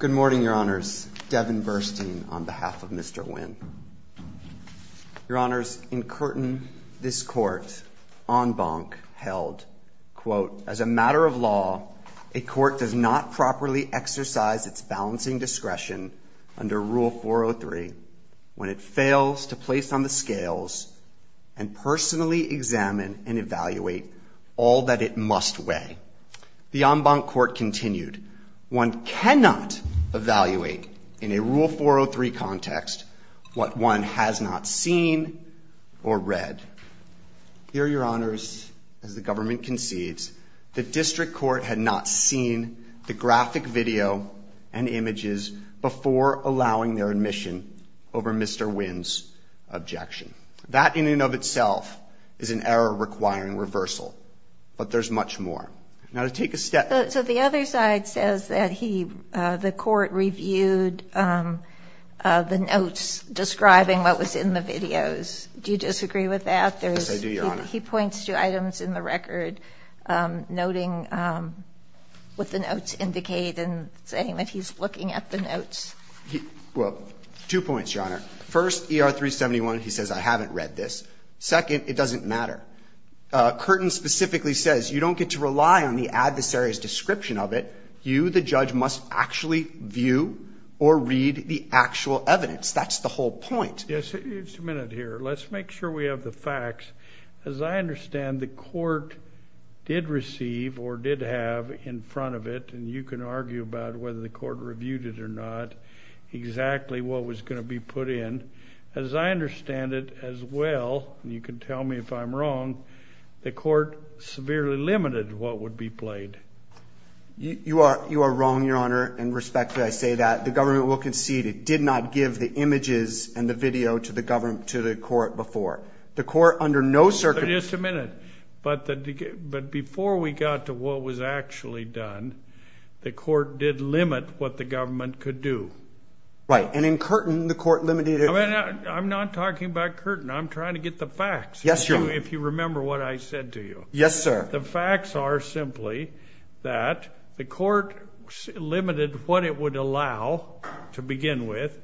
Good morning, Your Honors. Devin Burstein on behalf of Mr. Nguyen. Your Honors, in Curtin, this Court, en banc, held, quote, as a matter of law, a court does not properly exercise its balancing discretion under Rule 403 when it fails to place on the scales and personally examine and evaluate all that it must weigh. The en banc Court continued, one cannot evaluate in a Rule 403 context what one has not seen or read. Here, Your Honors, as the government concedes, the District Court had not seen the graphic video and images before allowing their admission over Mr. Nguyen's objection. That in and of itself is an error requiring reversal, but there's much more. Now, to take a step So the other side says that he, the Court, reviewed the notes describing what was in the videos. Do you disagree with that? Yes, I do, Your Honor. He points to items in the record noting what the notes indicate and saying that he's looking at the notes. Well, two points, Your Honor. First, ER 371, he says, I haven't read this. Second, it doesn't matter. Curtin specifically says you don't get to rely on the adversary's description of it. You, the judge, must actually view or read the actual evidence. That's the whole point. Yes, just a minute here. Let's make sure we have the facts. As I understand, the Court did receive or did have in front of it, and you can argue about whether the Court reviewed it or not, exactly what was going to be put in. As I understand it, as well, and you can tell me if I'm wrong, the Court severely limited what would be played. You are wrong, Your Honor, and respectfully I say that. The Government will concede it did not give the images and the video to the Court before. The Court, under no circumstances Just a minute. But before we got to what was actually done, the Court did limit what the Government could do. Right, and in Curtin, the Court limited I'm not talking about Curtin. I'm trying to get the facts, if you remember what I said to you. Yes, sir. The facts are simply that the Court limited what it would allow to begin with.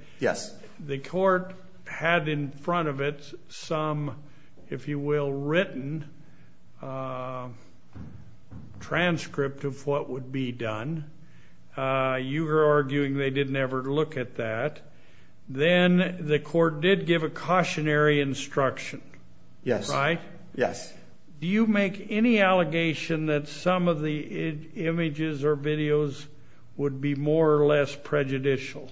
The Court had in front of it some, if you will, written transcript of what would be done. You were arguing they didn't ever look at that. Then the Court did give a cautionary instruction. Yes. Right? Yes. Do you make any allegation that some of the images or videos would be more or less prejudicial?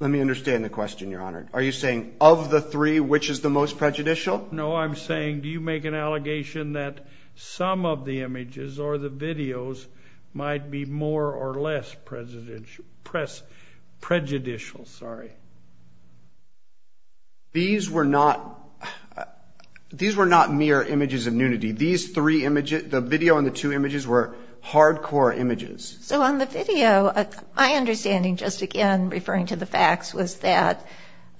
Let me understand the question, Your Honor. Are you saying of the three, which is the most prejudicial? No, I'm saying do you make an allegation that some of the images or the videos might be more or less prejudicial? These were not mere images of nudity. These three images, the video and the two images were hardcore images. So on the video, my understanding, just again referring to the facts, was that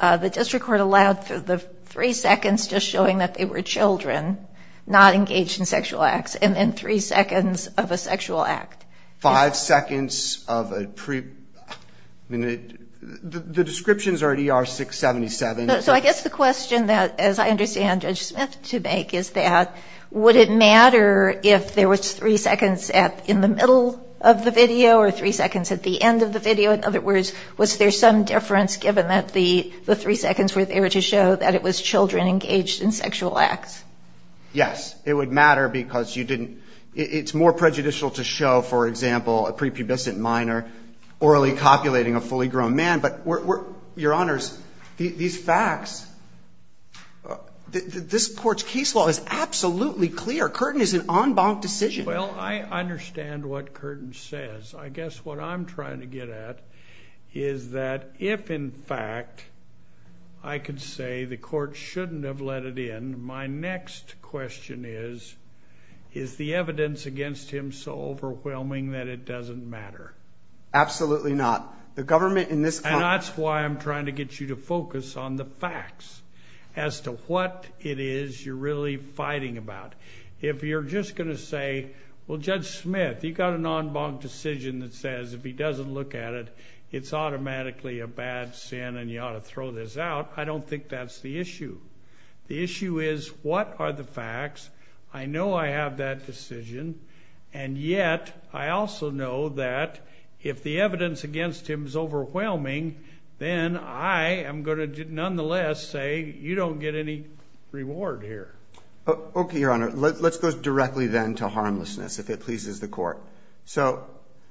the District Court allowed for the three seconds just showing that they were children, not engaged in sexual acts, and then three seconds of a sexual act. Five seconds of a pre... I mean, the descriptions are at ER 677. So I guess the question that, as I understand Judge Smith to make, is that would it matter if there was three seconds in the middle of the video or three seconds at the end of the video? In other words, was there some difference given that the three seconds were there to show that it was children engaged in sexual acts? Yes, it would matter because you didn't... It's more prejudicial to show, for example, a prepubescent minor orally copulating a fully grown man. But Your Honors, these facts, this court's case law is absolutely clear. Curtin is an en banc decision. Well, I understand what Curtin says. I guess what I'm trying to get at is that if, in fact, I could say the court shouldn't have let it in. My next question is, is the evidence against him so overwhelming that it doesn't matter? Absolutely not. The government in this country... And that's why I'm trying to get you to focus on the facts as to what it is you're really fighting about. If you're just going to say, well, Judge Smith, you've got an en banc decision that says if he doesn't look at it, it's automatically a bad sin and you ought to throw this out. I don't think that's the issue. The issue is what are the facts? I know I have that decision, and yet I also know that if the evidence against him is overwhelming, then I am going to nonetheless say you don't get any reward here. Okay, Your Honor. Let's go directly then to harmlessness, if it pleases the court. So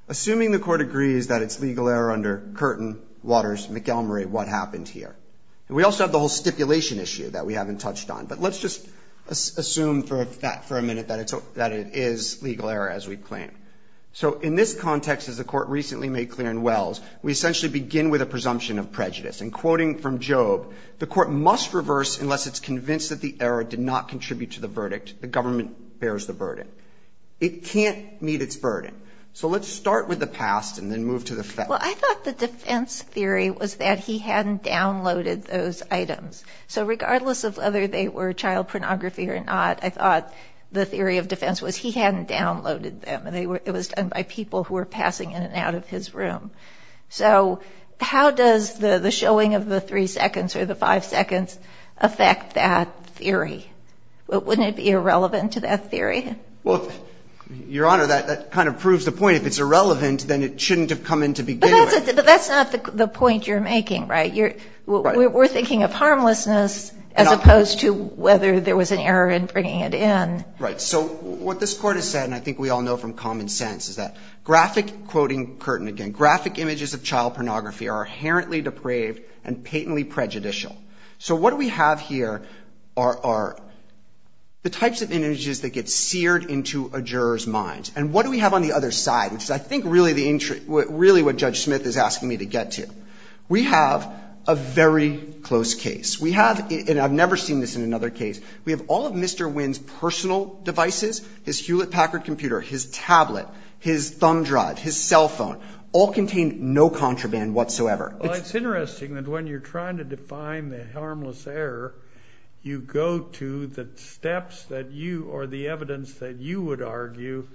assuming the court agrees that it's legal error under Curtin, Waters, McElmurray, what happened here? And we also have the whole stipulation issue that we haven't touched on. But let's just assume for a minute that it is legal error as we planned. So in this context, as the court recently made clear in Wells, we essentially begin with a presumption of prejudice. And quoting from Job, the court must reverse unless it's convinced that the error did not contribute to the verdict. The government bears the burden. It can't meet its burden. So let's start with the past and then move to the facts. Well, I thought the defense theory was that he hadn't downloaded those items. So regardless of whether they were child pornography or not, I thought the theory of defense was he hadn't downloaded them. It was done by people who were passing in and out of his room. So how does the showing of the three seconds or the five seconds affect that theory? Wouldn't it be irrelevant to that theory? Well, Your Honor, that kind of proves the point. And if it's irrelevant, then it shouldn't have come into being anyway. But that's not the point you're making, right? We're thinking of harmlessness as opposed to whether there was an error in bringing it in. Right. So what this Court has said, and I think we all know from common sense, is that graphic – quoting Curtin again – graphic images of child pornography are inherently depraved and patently prejudicial. So what we have here are the types of images that get seared into a juror's mind. And what do we have on the other side, which is I think really the – really what Judge Smith is asking me to get to? We have a very close case. We have – and I've never seen this in another case – we have all of Mr. Wynn's personal devices, his Hewlett-Packard computer, his tablet, his thumb drive, his cell phone, all contain no contraband whatsoever. It's interesting that when you're trying to define the harmless error, you go to the evidence that you would argue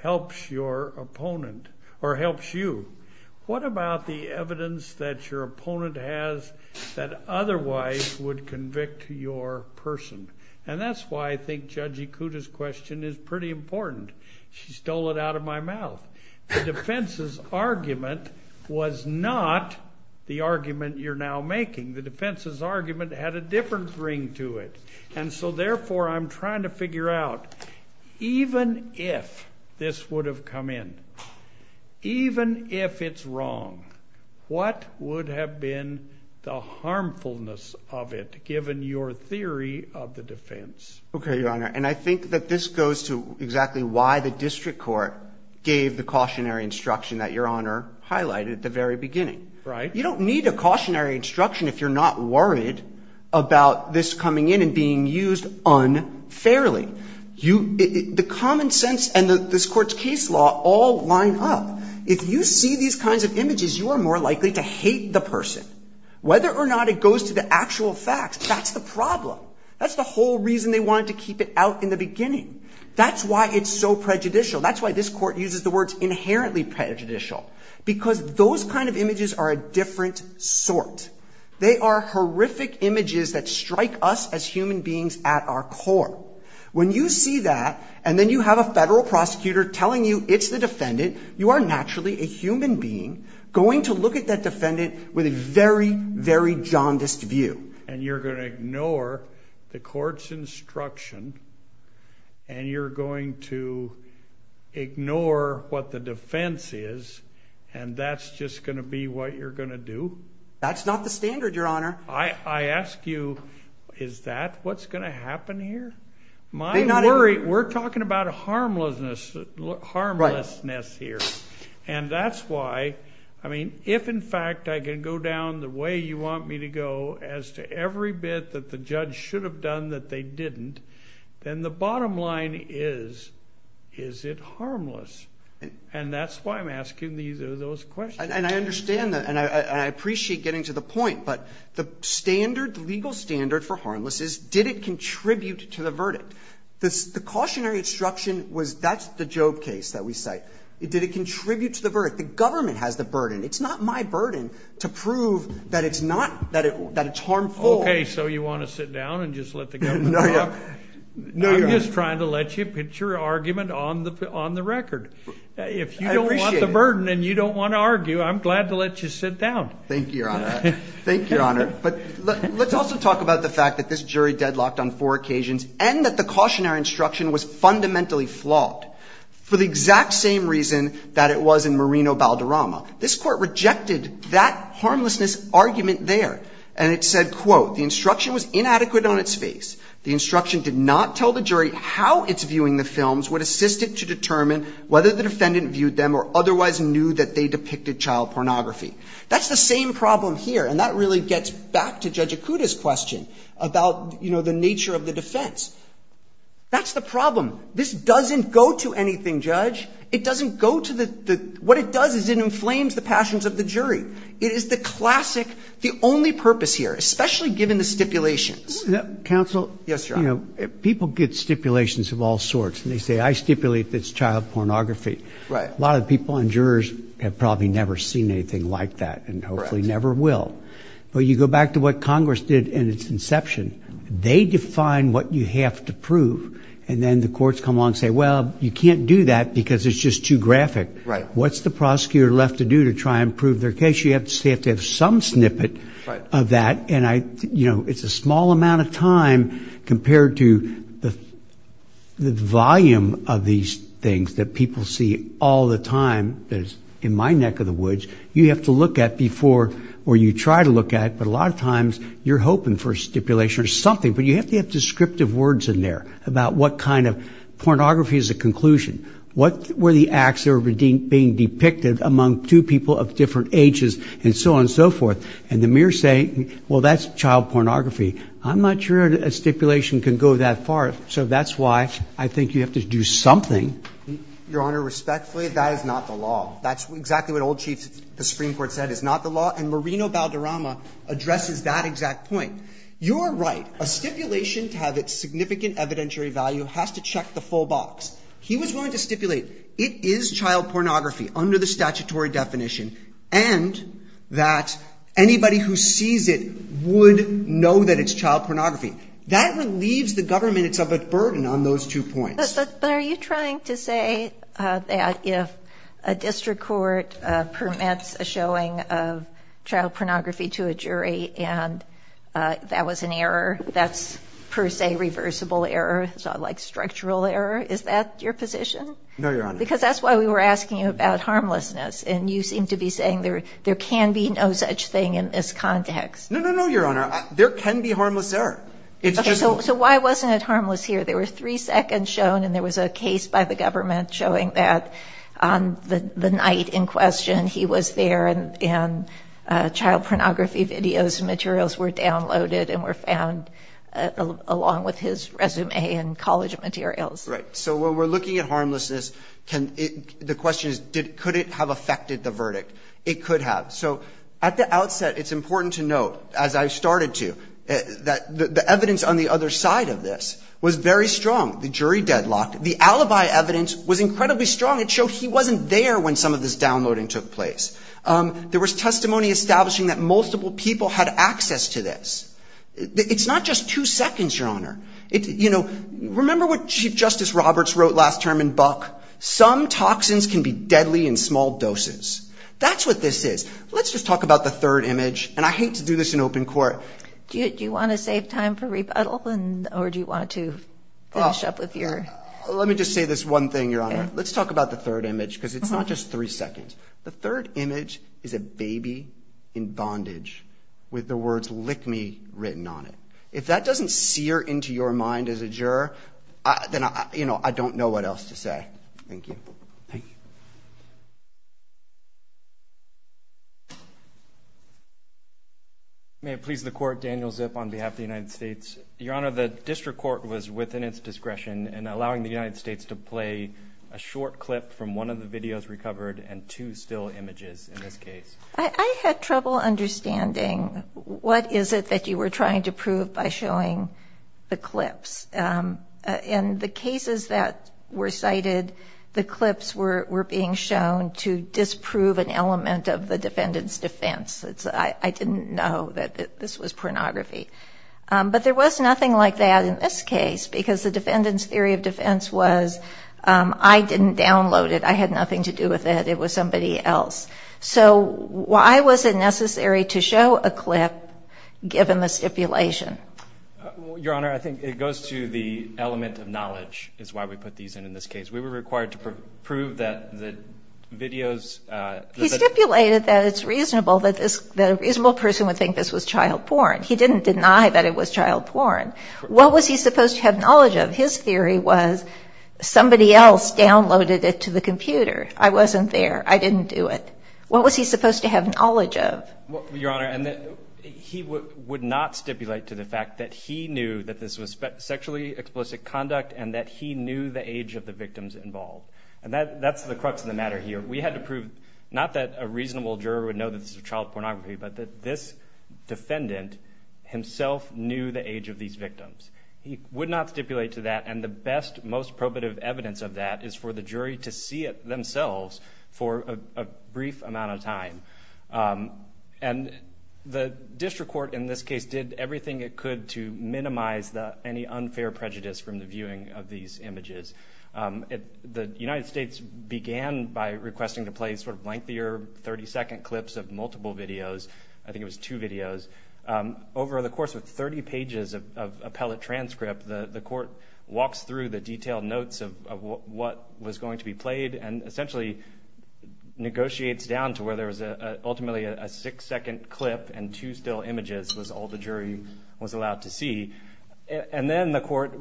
helps your opponent or helps you. What about the evidence that your opponent has that otherwise would convict your person? And that's why I think Judge Ikuda's question is pretty important. She stole it out of my mouth. The defense's argument was not the argument you're now making. The defense's argument had a different ring to it. And so therefore, I'm trying to figure out even if this would have come in, even if it's wrong, what would have been the harmfulness of it given your theory of the defense? Okay, Your Honor, and I think that this goes to exactly why the district court gave the cautionary instruction that Your Honor highlighted at the very beginning. You don't need a cautionary instruction if you're not worried about this coming in and being used unfairly. The common sense and this Court's case law all line up. If you see these kinds of images, you are more likely to hate the person. Whether or not it goes to the actual facts, that's the problem. That's the whole reason they wanted to keep it out in the beginning. That's why it's so prejudicial. That's why this Court uses the words inherently prejudicial, because those kind of images are a different sort. They are horrific images that strike us as human beings at our core. When you see that, and then you have a federal prosecutor telling you it's the defendant, you are naturally a human being going to look at that defendant with a very, very jaundiced view. And you're going to ignore the Court's instruction, and you're going to ignore what the defense is, and that's just going to be what you're going to do? That's not the standard, Your Honor. I ask you, is that what's going to happen here? We're talking about harmlessness here. And that's why, I mean, if in fact I can go down the way you want me to go, as to every bit that the judge should have done that they didn't, then the bottom line is, is it harmless? And that's why I'm asking those questions. And I understand that, and I appreciate getting to the point, but the standard, the legal standard for harmlessness, did it contribute to the verdict? The cautionary instruction was, that's the Job case that we cite, did it contribute to the verdict? The government has the burden. It's not my burden to prove that it's not, that it's harmful. Okay. So you want to sit down and just let the government talk? No, Your Honor. I'm just trying to let you pitch your argument on the record. I appreciate it. If you don't want the burden and you don't want to argue, I'm glad to let you sit down. Thank you, Your Honor. Thank you, Your Honor. But let's also talk about the fact that this jury deadlocked on four occasions, and that the cautionary instruction was fundamentally flawed, for the exact same reason that it was in Merino-Balderrama. This court rejected that harmlessness argument there. And it said, quote, the instruction was inadequate on its face. The instruction did not tell the jury how its viewing the films would assist it to determine whether the defendant viewed them or otherwise knew that they depicted child pornography. That's the same problem here. And that really gets back to Judge Acuda's question about, you know, the nature of the defense. That's the problem. This doesn't go to anything, Judge. It doesn't go to the – what it does is it inflames the passions of the jury. It is the classic, the only purpose here, especially given the stipulations. Counsel? Yes, Your Honor. You know, people get stipulations of all sorts, and they say, I stipulate that it's child pornography. Right. A lot of people on jurors have probably never seen anything like that, and hopefully never will. But you go back to what Congress did in its inception. They define what you have to prove, and then the courts come along and say, well, you can't do that because it's just too graphic. Right. What's the prosecutor left to do to try and prove their case? You have to have some snippet of that. And I, you know, it's a small amount of time compared to the volume of these things that people see all the time that is in my neck of the woods. You have to look at before, or you try to look at, but a lot of times you're hoping for a stipulation or something, but you have to have descriptive words in there about what kind of pornography is a conclusion. What were the acts that were being depicted among two people of different ages, and so on and so forth. And the mirrors say, well, that's child pornography. I'm not sure a stipulation can go that far. So that's why I think you have to do something. Your Honor, respectfully, that is not the law. That's exactly what old chiefs, the Supreme Court said is not the law. And Marino Balderrama addresses that exact point. You're right. A stipulation to have its significant evidentiary value has to check the full box. He was willing to stipulate it is child pornography under the statutory definition. And that anybody who sees it would know that it's child pornography. That relieves the government. It's a burden on those two points. But are you trying to say that if a district court permits a showing of child pornography to a jury and that was an error, that's per se reversible error, like structural error? Is that your position? No, Your Honor. Because that's why we were asking you about harmlessness. And you seem to be saying there can be no such thing in this context. No, no, no, Your Honor. There can be harmless error. So why wasn't it harmless here? There were three seconds shown and there was a case by the government showing that on the night in question, he was there and child pornography videos and materials were downloaded and were found along with his resume and college materials. Right. So when we're looking at harmlessness, the question is, could it have affected the verdict? It could have. So at the outset, it's important to note, as I started to, that the evidence on the other side of this was very strong. The jury deadlocked. The alibi evidence was incredibly strong. It showed he wasn't there when some of this downloading took place. There was testimony establishing that multiple people had access to this. It's not just two seconds, Your Honor. You know, remember what Chief Justice Roberts wrote last term in Buck? Some toxins can be deadly in small doses. That's what this is. Let's just talk about the third image. And I hate to do this in open court. Do you want to save time for rebuttal or do you want to finish up with your... Let me just say this one thing, Your Honor. Let's talk about the third image because it's not just three seconds. The third image is a baby in bondage with the words lick me written on it. If that doesn't sear into your mind as a juror, then I don't know what else to say. Thank you. Thank you. May it please the court, Daniel Zip on behalf of the United States. Your Honor, the district court was within its discretion in allowing the United States to play a short clip from one of the videos recovered and two still images in this case. I had trouble understanding what is it that you were trying to prove by showing the clips. In the cases that were cited, the clips were being shown to disprove an element of the defendant's defense. I didn't know that this was pornography. But there was nothing like that in this case because the defendant's theory of defense was I didn't download it. I had nothing to do with it. It was somebody else. So why was it necessary to show a clip given the stipulation? Your Honor, I think it goes to the element of knowledge is why we put these in in this case. We were required to prove that the videos... He stipulated that it's reasonable that a reasonable person would think this was child porn. He didn't deny that it was child porn. What was he supposed to have knowledge of? His theory was somebody else downloaded it to the computer. I wasn't there. I didn't do it. What was he supposed to have knowledge of? Your Honor, he would not stipulate to the fact that he knew that this was sexually explicit conduct and that he knew the age of the victims involved. And that's the crux of the matter here. We had to prove not that a reasonable juror would know that this is child pornography, but that this defendant himself knew the age of these victims. He would not stipulate to that. And the best, most probative evidence of that is for the jury to see it themselves for a brief amount of time. And the district court in this case did everything it could to minimize any unfair prejudice from the viewing of these images. The United States began by requesting to play sort of lengthier 30-second clips of multiple videos. I think it was two videos. Over the course of 30 pages of appellate transcript, the court walks through the detailed notes of what was going to be played, and essentially negotiates down to where there was ultimately a six-second clip and two still images was all the jury was allowed to see. And then the court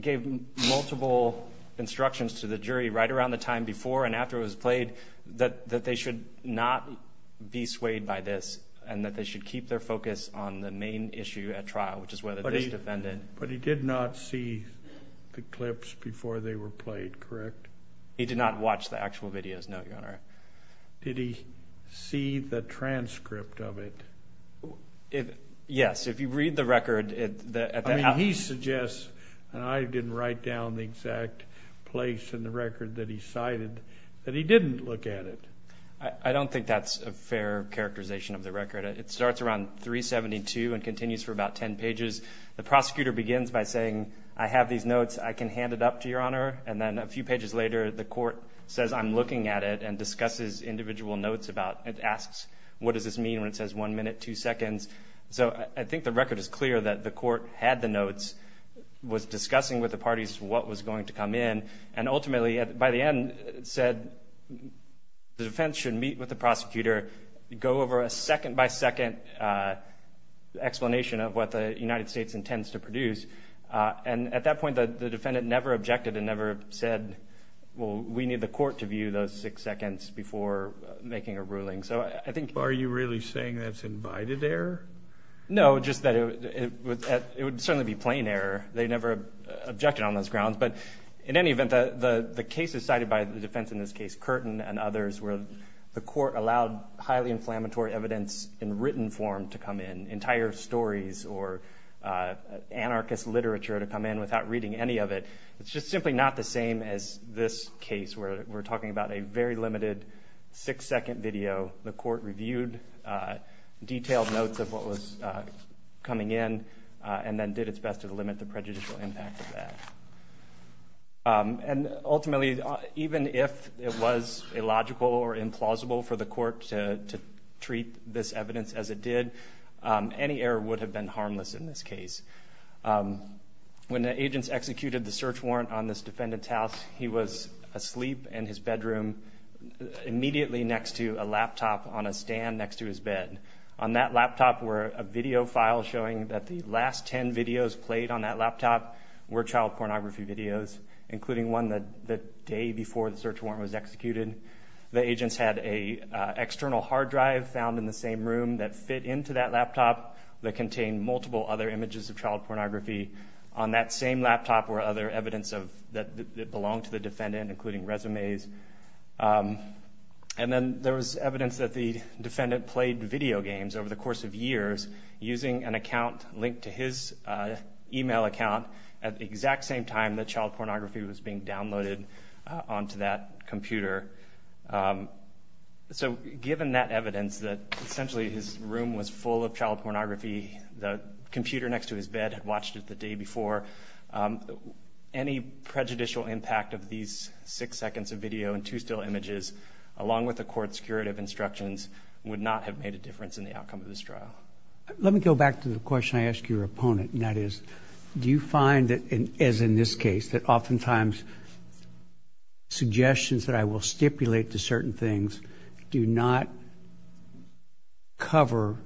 gave multiple instructions to the jury right around the time before and after it was played that they should not be swayed by this, and that they should keep their focus on the main issue at trial, which is whether this defendant... But he did not see the clips before they were played, correct? He did not watch the actual videos, no, Your Honor. Did he see the transcript of it? Yes, if you read the record... He suggests, and I didn't write down the exact place in the record that he cited, that he didn't look at it. I don't think that's a fair characterization of the record. It starts around 372 and continues for about 10 pages. The prosecutor begins by saying, I have these notes. I can hand it up to Your Honor. And then a few pages later, the court says, I'm looking at it and discusses individual notes about... It asks, what does this mean when it says one minute, two seconds? So I think the record is clear that the court had the notes, was discussing with the parties what was going to come in, and ultimately, by the end, said the defense should meet with the prosecutor, go over a second by second explanation of what the United States intends to produce. And at that point, the defendant never objected and never said, well, we need the court to view those six seconds before making a ruling. So I think... Are you really saying that's invited error? No, just that it would certainly be plain error. They never objected on those grounds. But in any event, the case is cited by the defense in this case, Curtin and others, where the court allowed highly inflammatory evidence in written form to come in, entire stories or anarchist literature to come in without reading any of it. It's just simply not the same as this case where we're talking about a very limited six second video. The court reviewed detailed notes of what was coming in and then did its best to limit the prejudicial impact of that. And ultimately, even if it was illogical or implausible for the court to treat this evidence as it did, any error would have been harmless in this case. When the agents executed the search warrant on this defendant's house, he was asleep in his bedroom immediately next to a laptop on a stand next to his bed. On that laptop were a video file showing that the last 10 videos played on that laptop were child pornography videos, including one the day before the search warrant was executed. The agents had an external hard drive found in the same room that fit into that laptop that contained multiple other images of child pornography. On that same laptop were other evidence that belonged to the defendant, including resumes. And then there was evidence that the defendant played video games over the course of years using an account linked to his email account at the exact same time that child pornography was being downloaded onto that computer. So given that evidence that essentially his room was full of child pornography, the computer next to his bed had watched it the day before, any prejudicial impact of these six seconds of video and two still images, along with the court's curative instructions, would not have made a difference in the outcome of this trial. Let me go back to the question I asked your opponent, and that is, do you find that, as in this case, that oftentimes suggestions that I will stipulate to certain things do not cover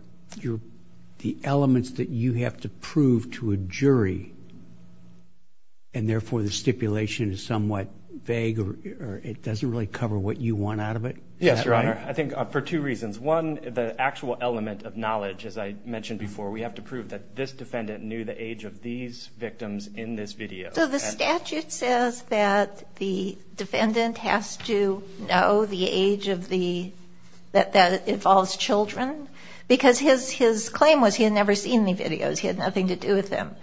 the elements that you have to prove to a jury, and therefore the stipulation is somewhat vague or it doesn't really cover what you want out of it? Yes, Your Honor. I think for two reasons. One, the actual element of knowledge, as I mentioned before, we have to prove that this defendant knew the age of these victims in this video. So the statute says that the defendant has to know the age of the, that that involves children, because his claim was he had never seen any videos. He had nothing to do with them,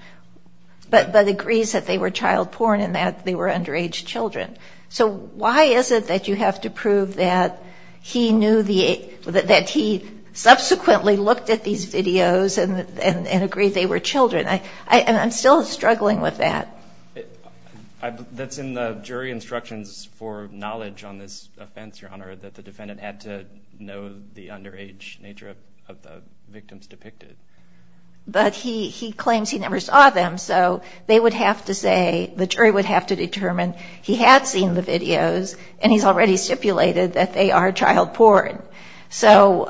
but agrees that they were child porn and that they were underage children. So why is it that you have to prove that he knew the age, that he subsequently looked at these videos and agreed they were children? I'm still struggling with that. That's in the jury instructions for knowledge on this offense, Your Honor, that the defendant had to know the underage nature of the victims depicted. But he claims he never saw them, so they would have to say, the jury would have to determine he had seen the videos and he's already stipulated that they are child porn. So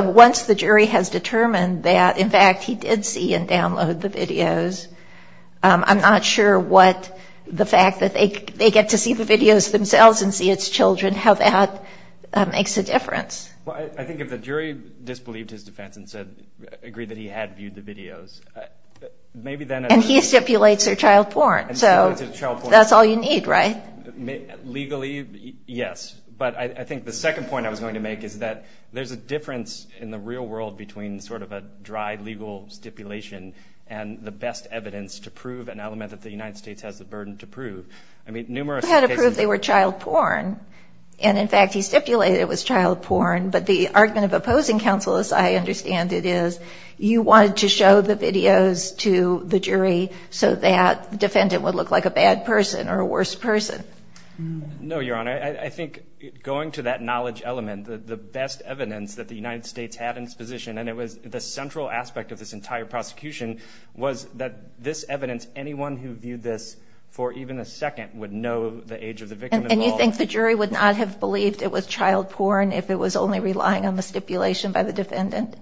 once the jury has determined that, in fact, he did see and download the videos, I'm not sure what the fact that they get to see the videos themselves and see its children, how that makes a difference. Well, I think if the jury disbelieved his defense and said, agreed that he had viewed the videos, maybe then... And he stipulates they're child porn, so that's all you need, right? Legally, yes. But I think the second point I was going to make is that there's a difference in the real world between sort of a dry legal stipulation and the best evidence to prove an element that the United States has the burden to prove. I mean, numerous... You had to prove they were child porn. And in fact, he stipulated it was child porn. But the argument of opposing counsel is, I understand it is, you wanted to show the videos to the jury so that the defendant would look like a bad person or a worse person. No, Your Honor. I think going to that knowledge element, the best evidence that the United States had in its position, and it was the central aspect of this entire prosecution, was that this evidence, anyone who viewed this for even a second would know the age of the victim. And you think the jury would not have believed it was child porn if it was only relying on the stipulation by the defendant?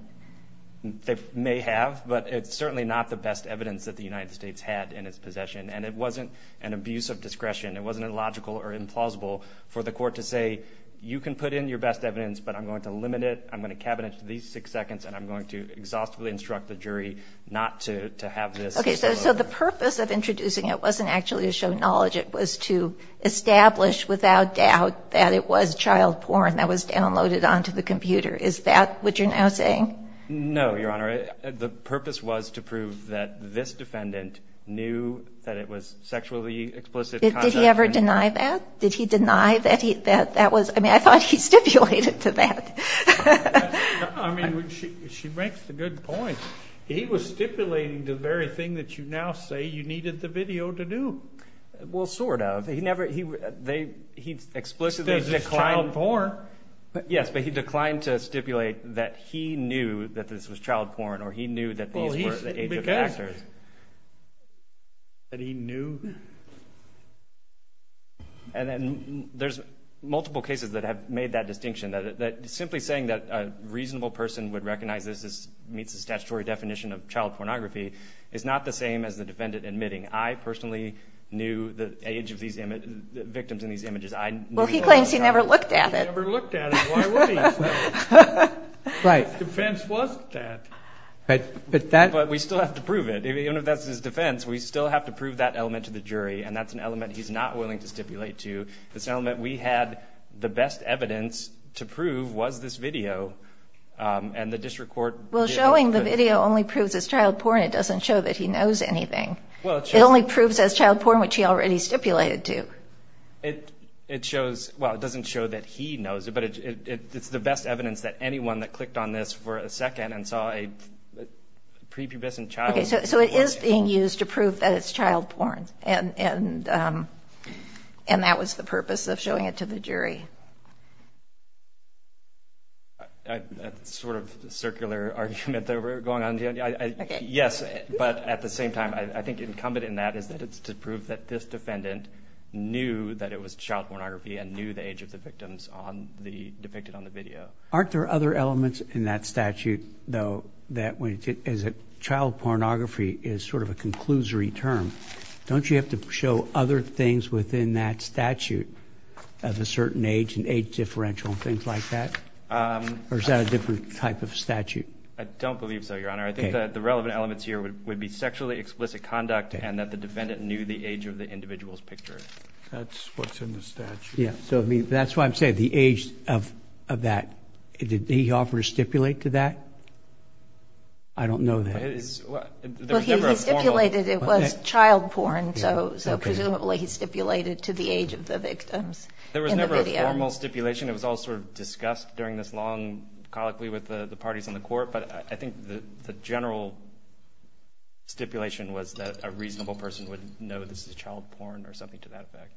They may have, but it's certainly not the best evidence that the United States had in its possession. And it wasn't an abuse of discretion. It wasn't illogical or implausible for the court to say, you can put in your best evidence, but I'm going to limit it, I'm going to cabinet it to these six seconds, and I'm going to exhaustively instruct the jury not to have this. Okay. So the purpose of introducing it wasn't actually to show knowledge. It was to establish without doubt that it was child porn that was downloaded onto the computer. Is that what you're now saying? No, Your Honor. The purpose was to prove that this defendant knew that it was sexually explicit. Did he ever deny that? Did he deny that he, that, that was, I mean, I thought he stipulated to that. I mean, she, she makes a good point. He was stipulating the very thing that you now say you needed the video to do. Well, sort of. He never, he, they, he explicitly declined. This is child porn. Yes, but he declined to stipulate that he knew that this was child porn, or he knew that these were the age of the actors. Well, he, because, that he knew. And then there's multiple cases that have made that distinction, that simply saying that a reasonable person would recognize this as, meets the statutory definition of child pornography is not the same as the defendant admitting, I personally knew the age of these image, victims in these images. I knew. Well, he claims he never looked at it. He never looked at it. Why would he? Right. His defense wasn't that. But, but that. But we still have to prove it. Even if that's his defense, we still have to prove that element to the jury. And that's an element he's not willing to stipulate to. This element we had the best evidence to prove was this video. And the district court. Well, showing the video only proves it's child porn. It doesn't show that he knows anything. Well, it shows. It only proves as child porn, which he already stipulated to. It, it shows. Well, it doesn't show that he knows it, but it's the best evidence that anyone that clicked on this for a second and saw a prepubescent child. Okay. So, so it is being used to prove that it's child porn and, and, and that was the purpose of showing it to the jury. I, that's sort of the circular argument that we're going on here. I, I, yes. But at the same time, I think incumbent in that is that it's to prove that this knew that it was child pornography and knew the age of the victims on the, depicted on the video. Aren't there other elements in that statute though, that when it is a child pornography is sort of a conclusory term. Don't you have to show other things within that statute as a certain age and age differential and things like that? Um, or is that a different type of statute? I don't believe so, your honor. I think that the relevant elements here would, would be sexually explicit conduct and that the defendant knew the age of the individual's picture. That's what's in the statute. Yeah. So, I mean, that's why I'm saying the age of, of that, did he offer to stipulate to that? I don't know that. It is, well, he stipulated it was child porn. So, so presumably he stipulated to the age of the victims. There was never a formal stipulation. It was all sort of discussed during this long colloquy with the parties on the court, but I think the general stipulation was that a reasonable person would know this is child porn or something to that effect.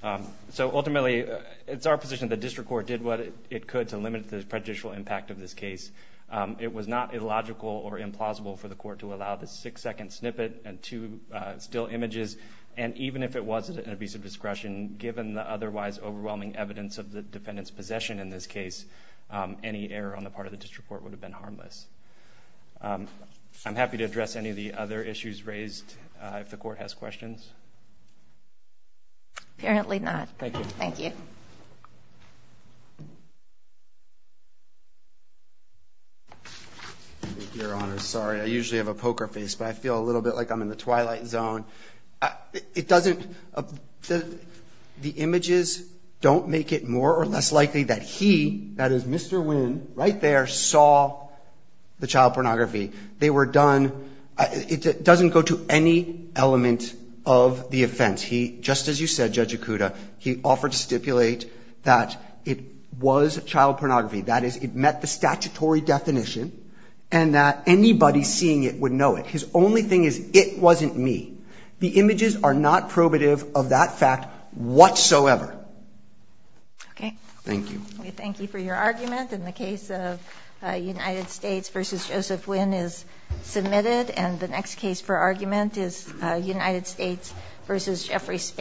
Um, so ultimately it's our position that district court did what it could to limit the prejudicial impact of this case. Um, it was not illogical or implausible for the court to allow the six second snippet and two, uh, still images. And even if it wasn't an abuse of discretion, given the otherwise overwhelming evidence of the defendant's possession in this case, um, any error on the part of the district court would have been harmless. Um, I'm happy to address any of the other issues raised, uh, if the court has questions. Apparently not. Thank you. Thank you. Your honor. Sorry. I usually have a poker face, but I feel a little bit like I'm in the twilight zone. Uh, it doesn't, uh, the, the images don't make it more or less likely that he, that is Mr. Wynn right there, saw the child pornography. They were done. Uh, it doesn't go to any element of the offense. He, just as you said, Judge Ikuda, he offered to stipulate that it was child pornography. That is, it met the statutory definition and that anybody seeing it would know it. His only thing is it wasn't me. The images are not probative of that fact whatsoever. Okay. Thank you. Thank you for your argument. In the case of a United States versus Joseph Wynn is submitted. And the next case for argument is a United States versus Jeffrey.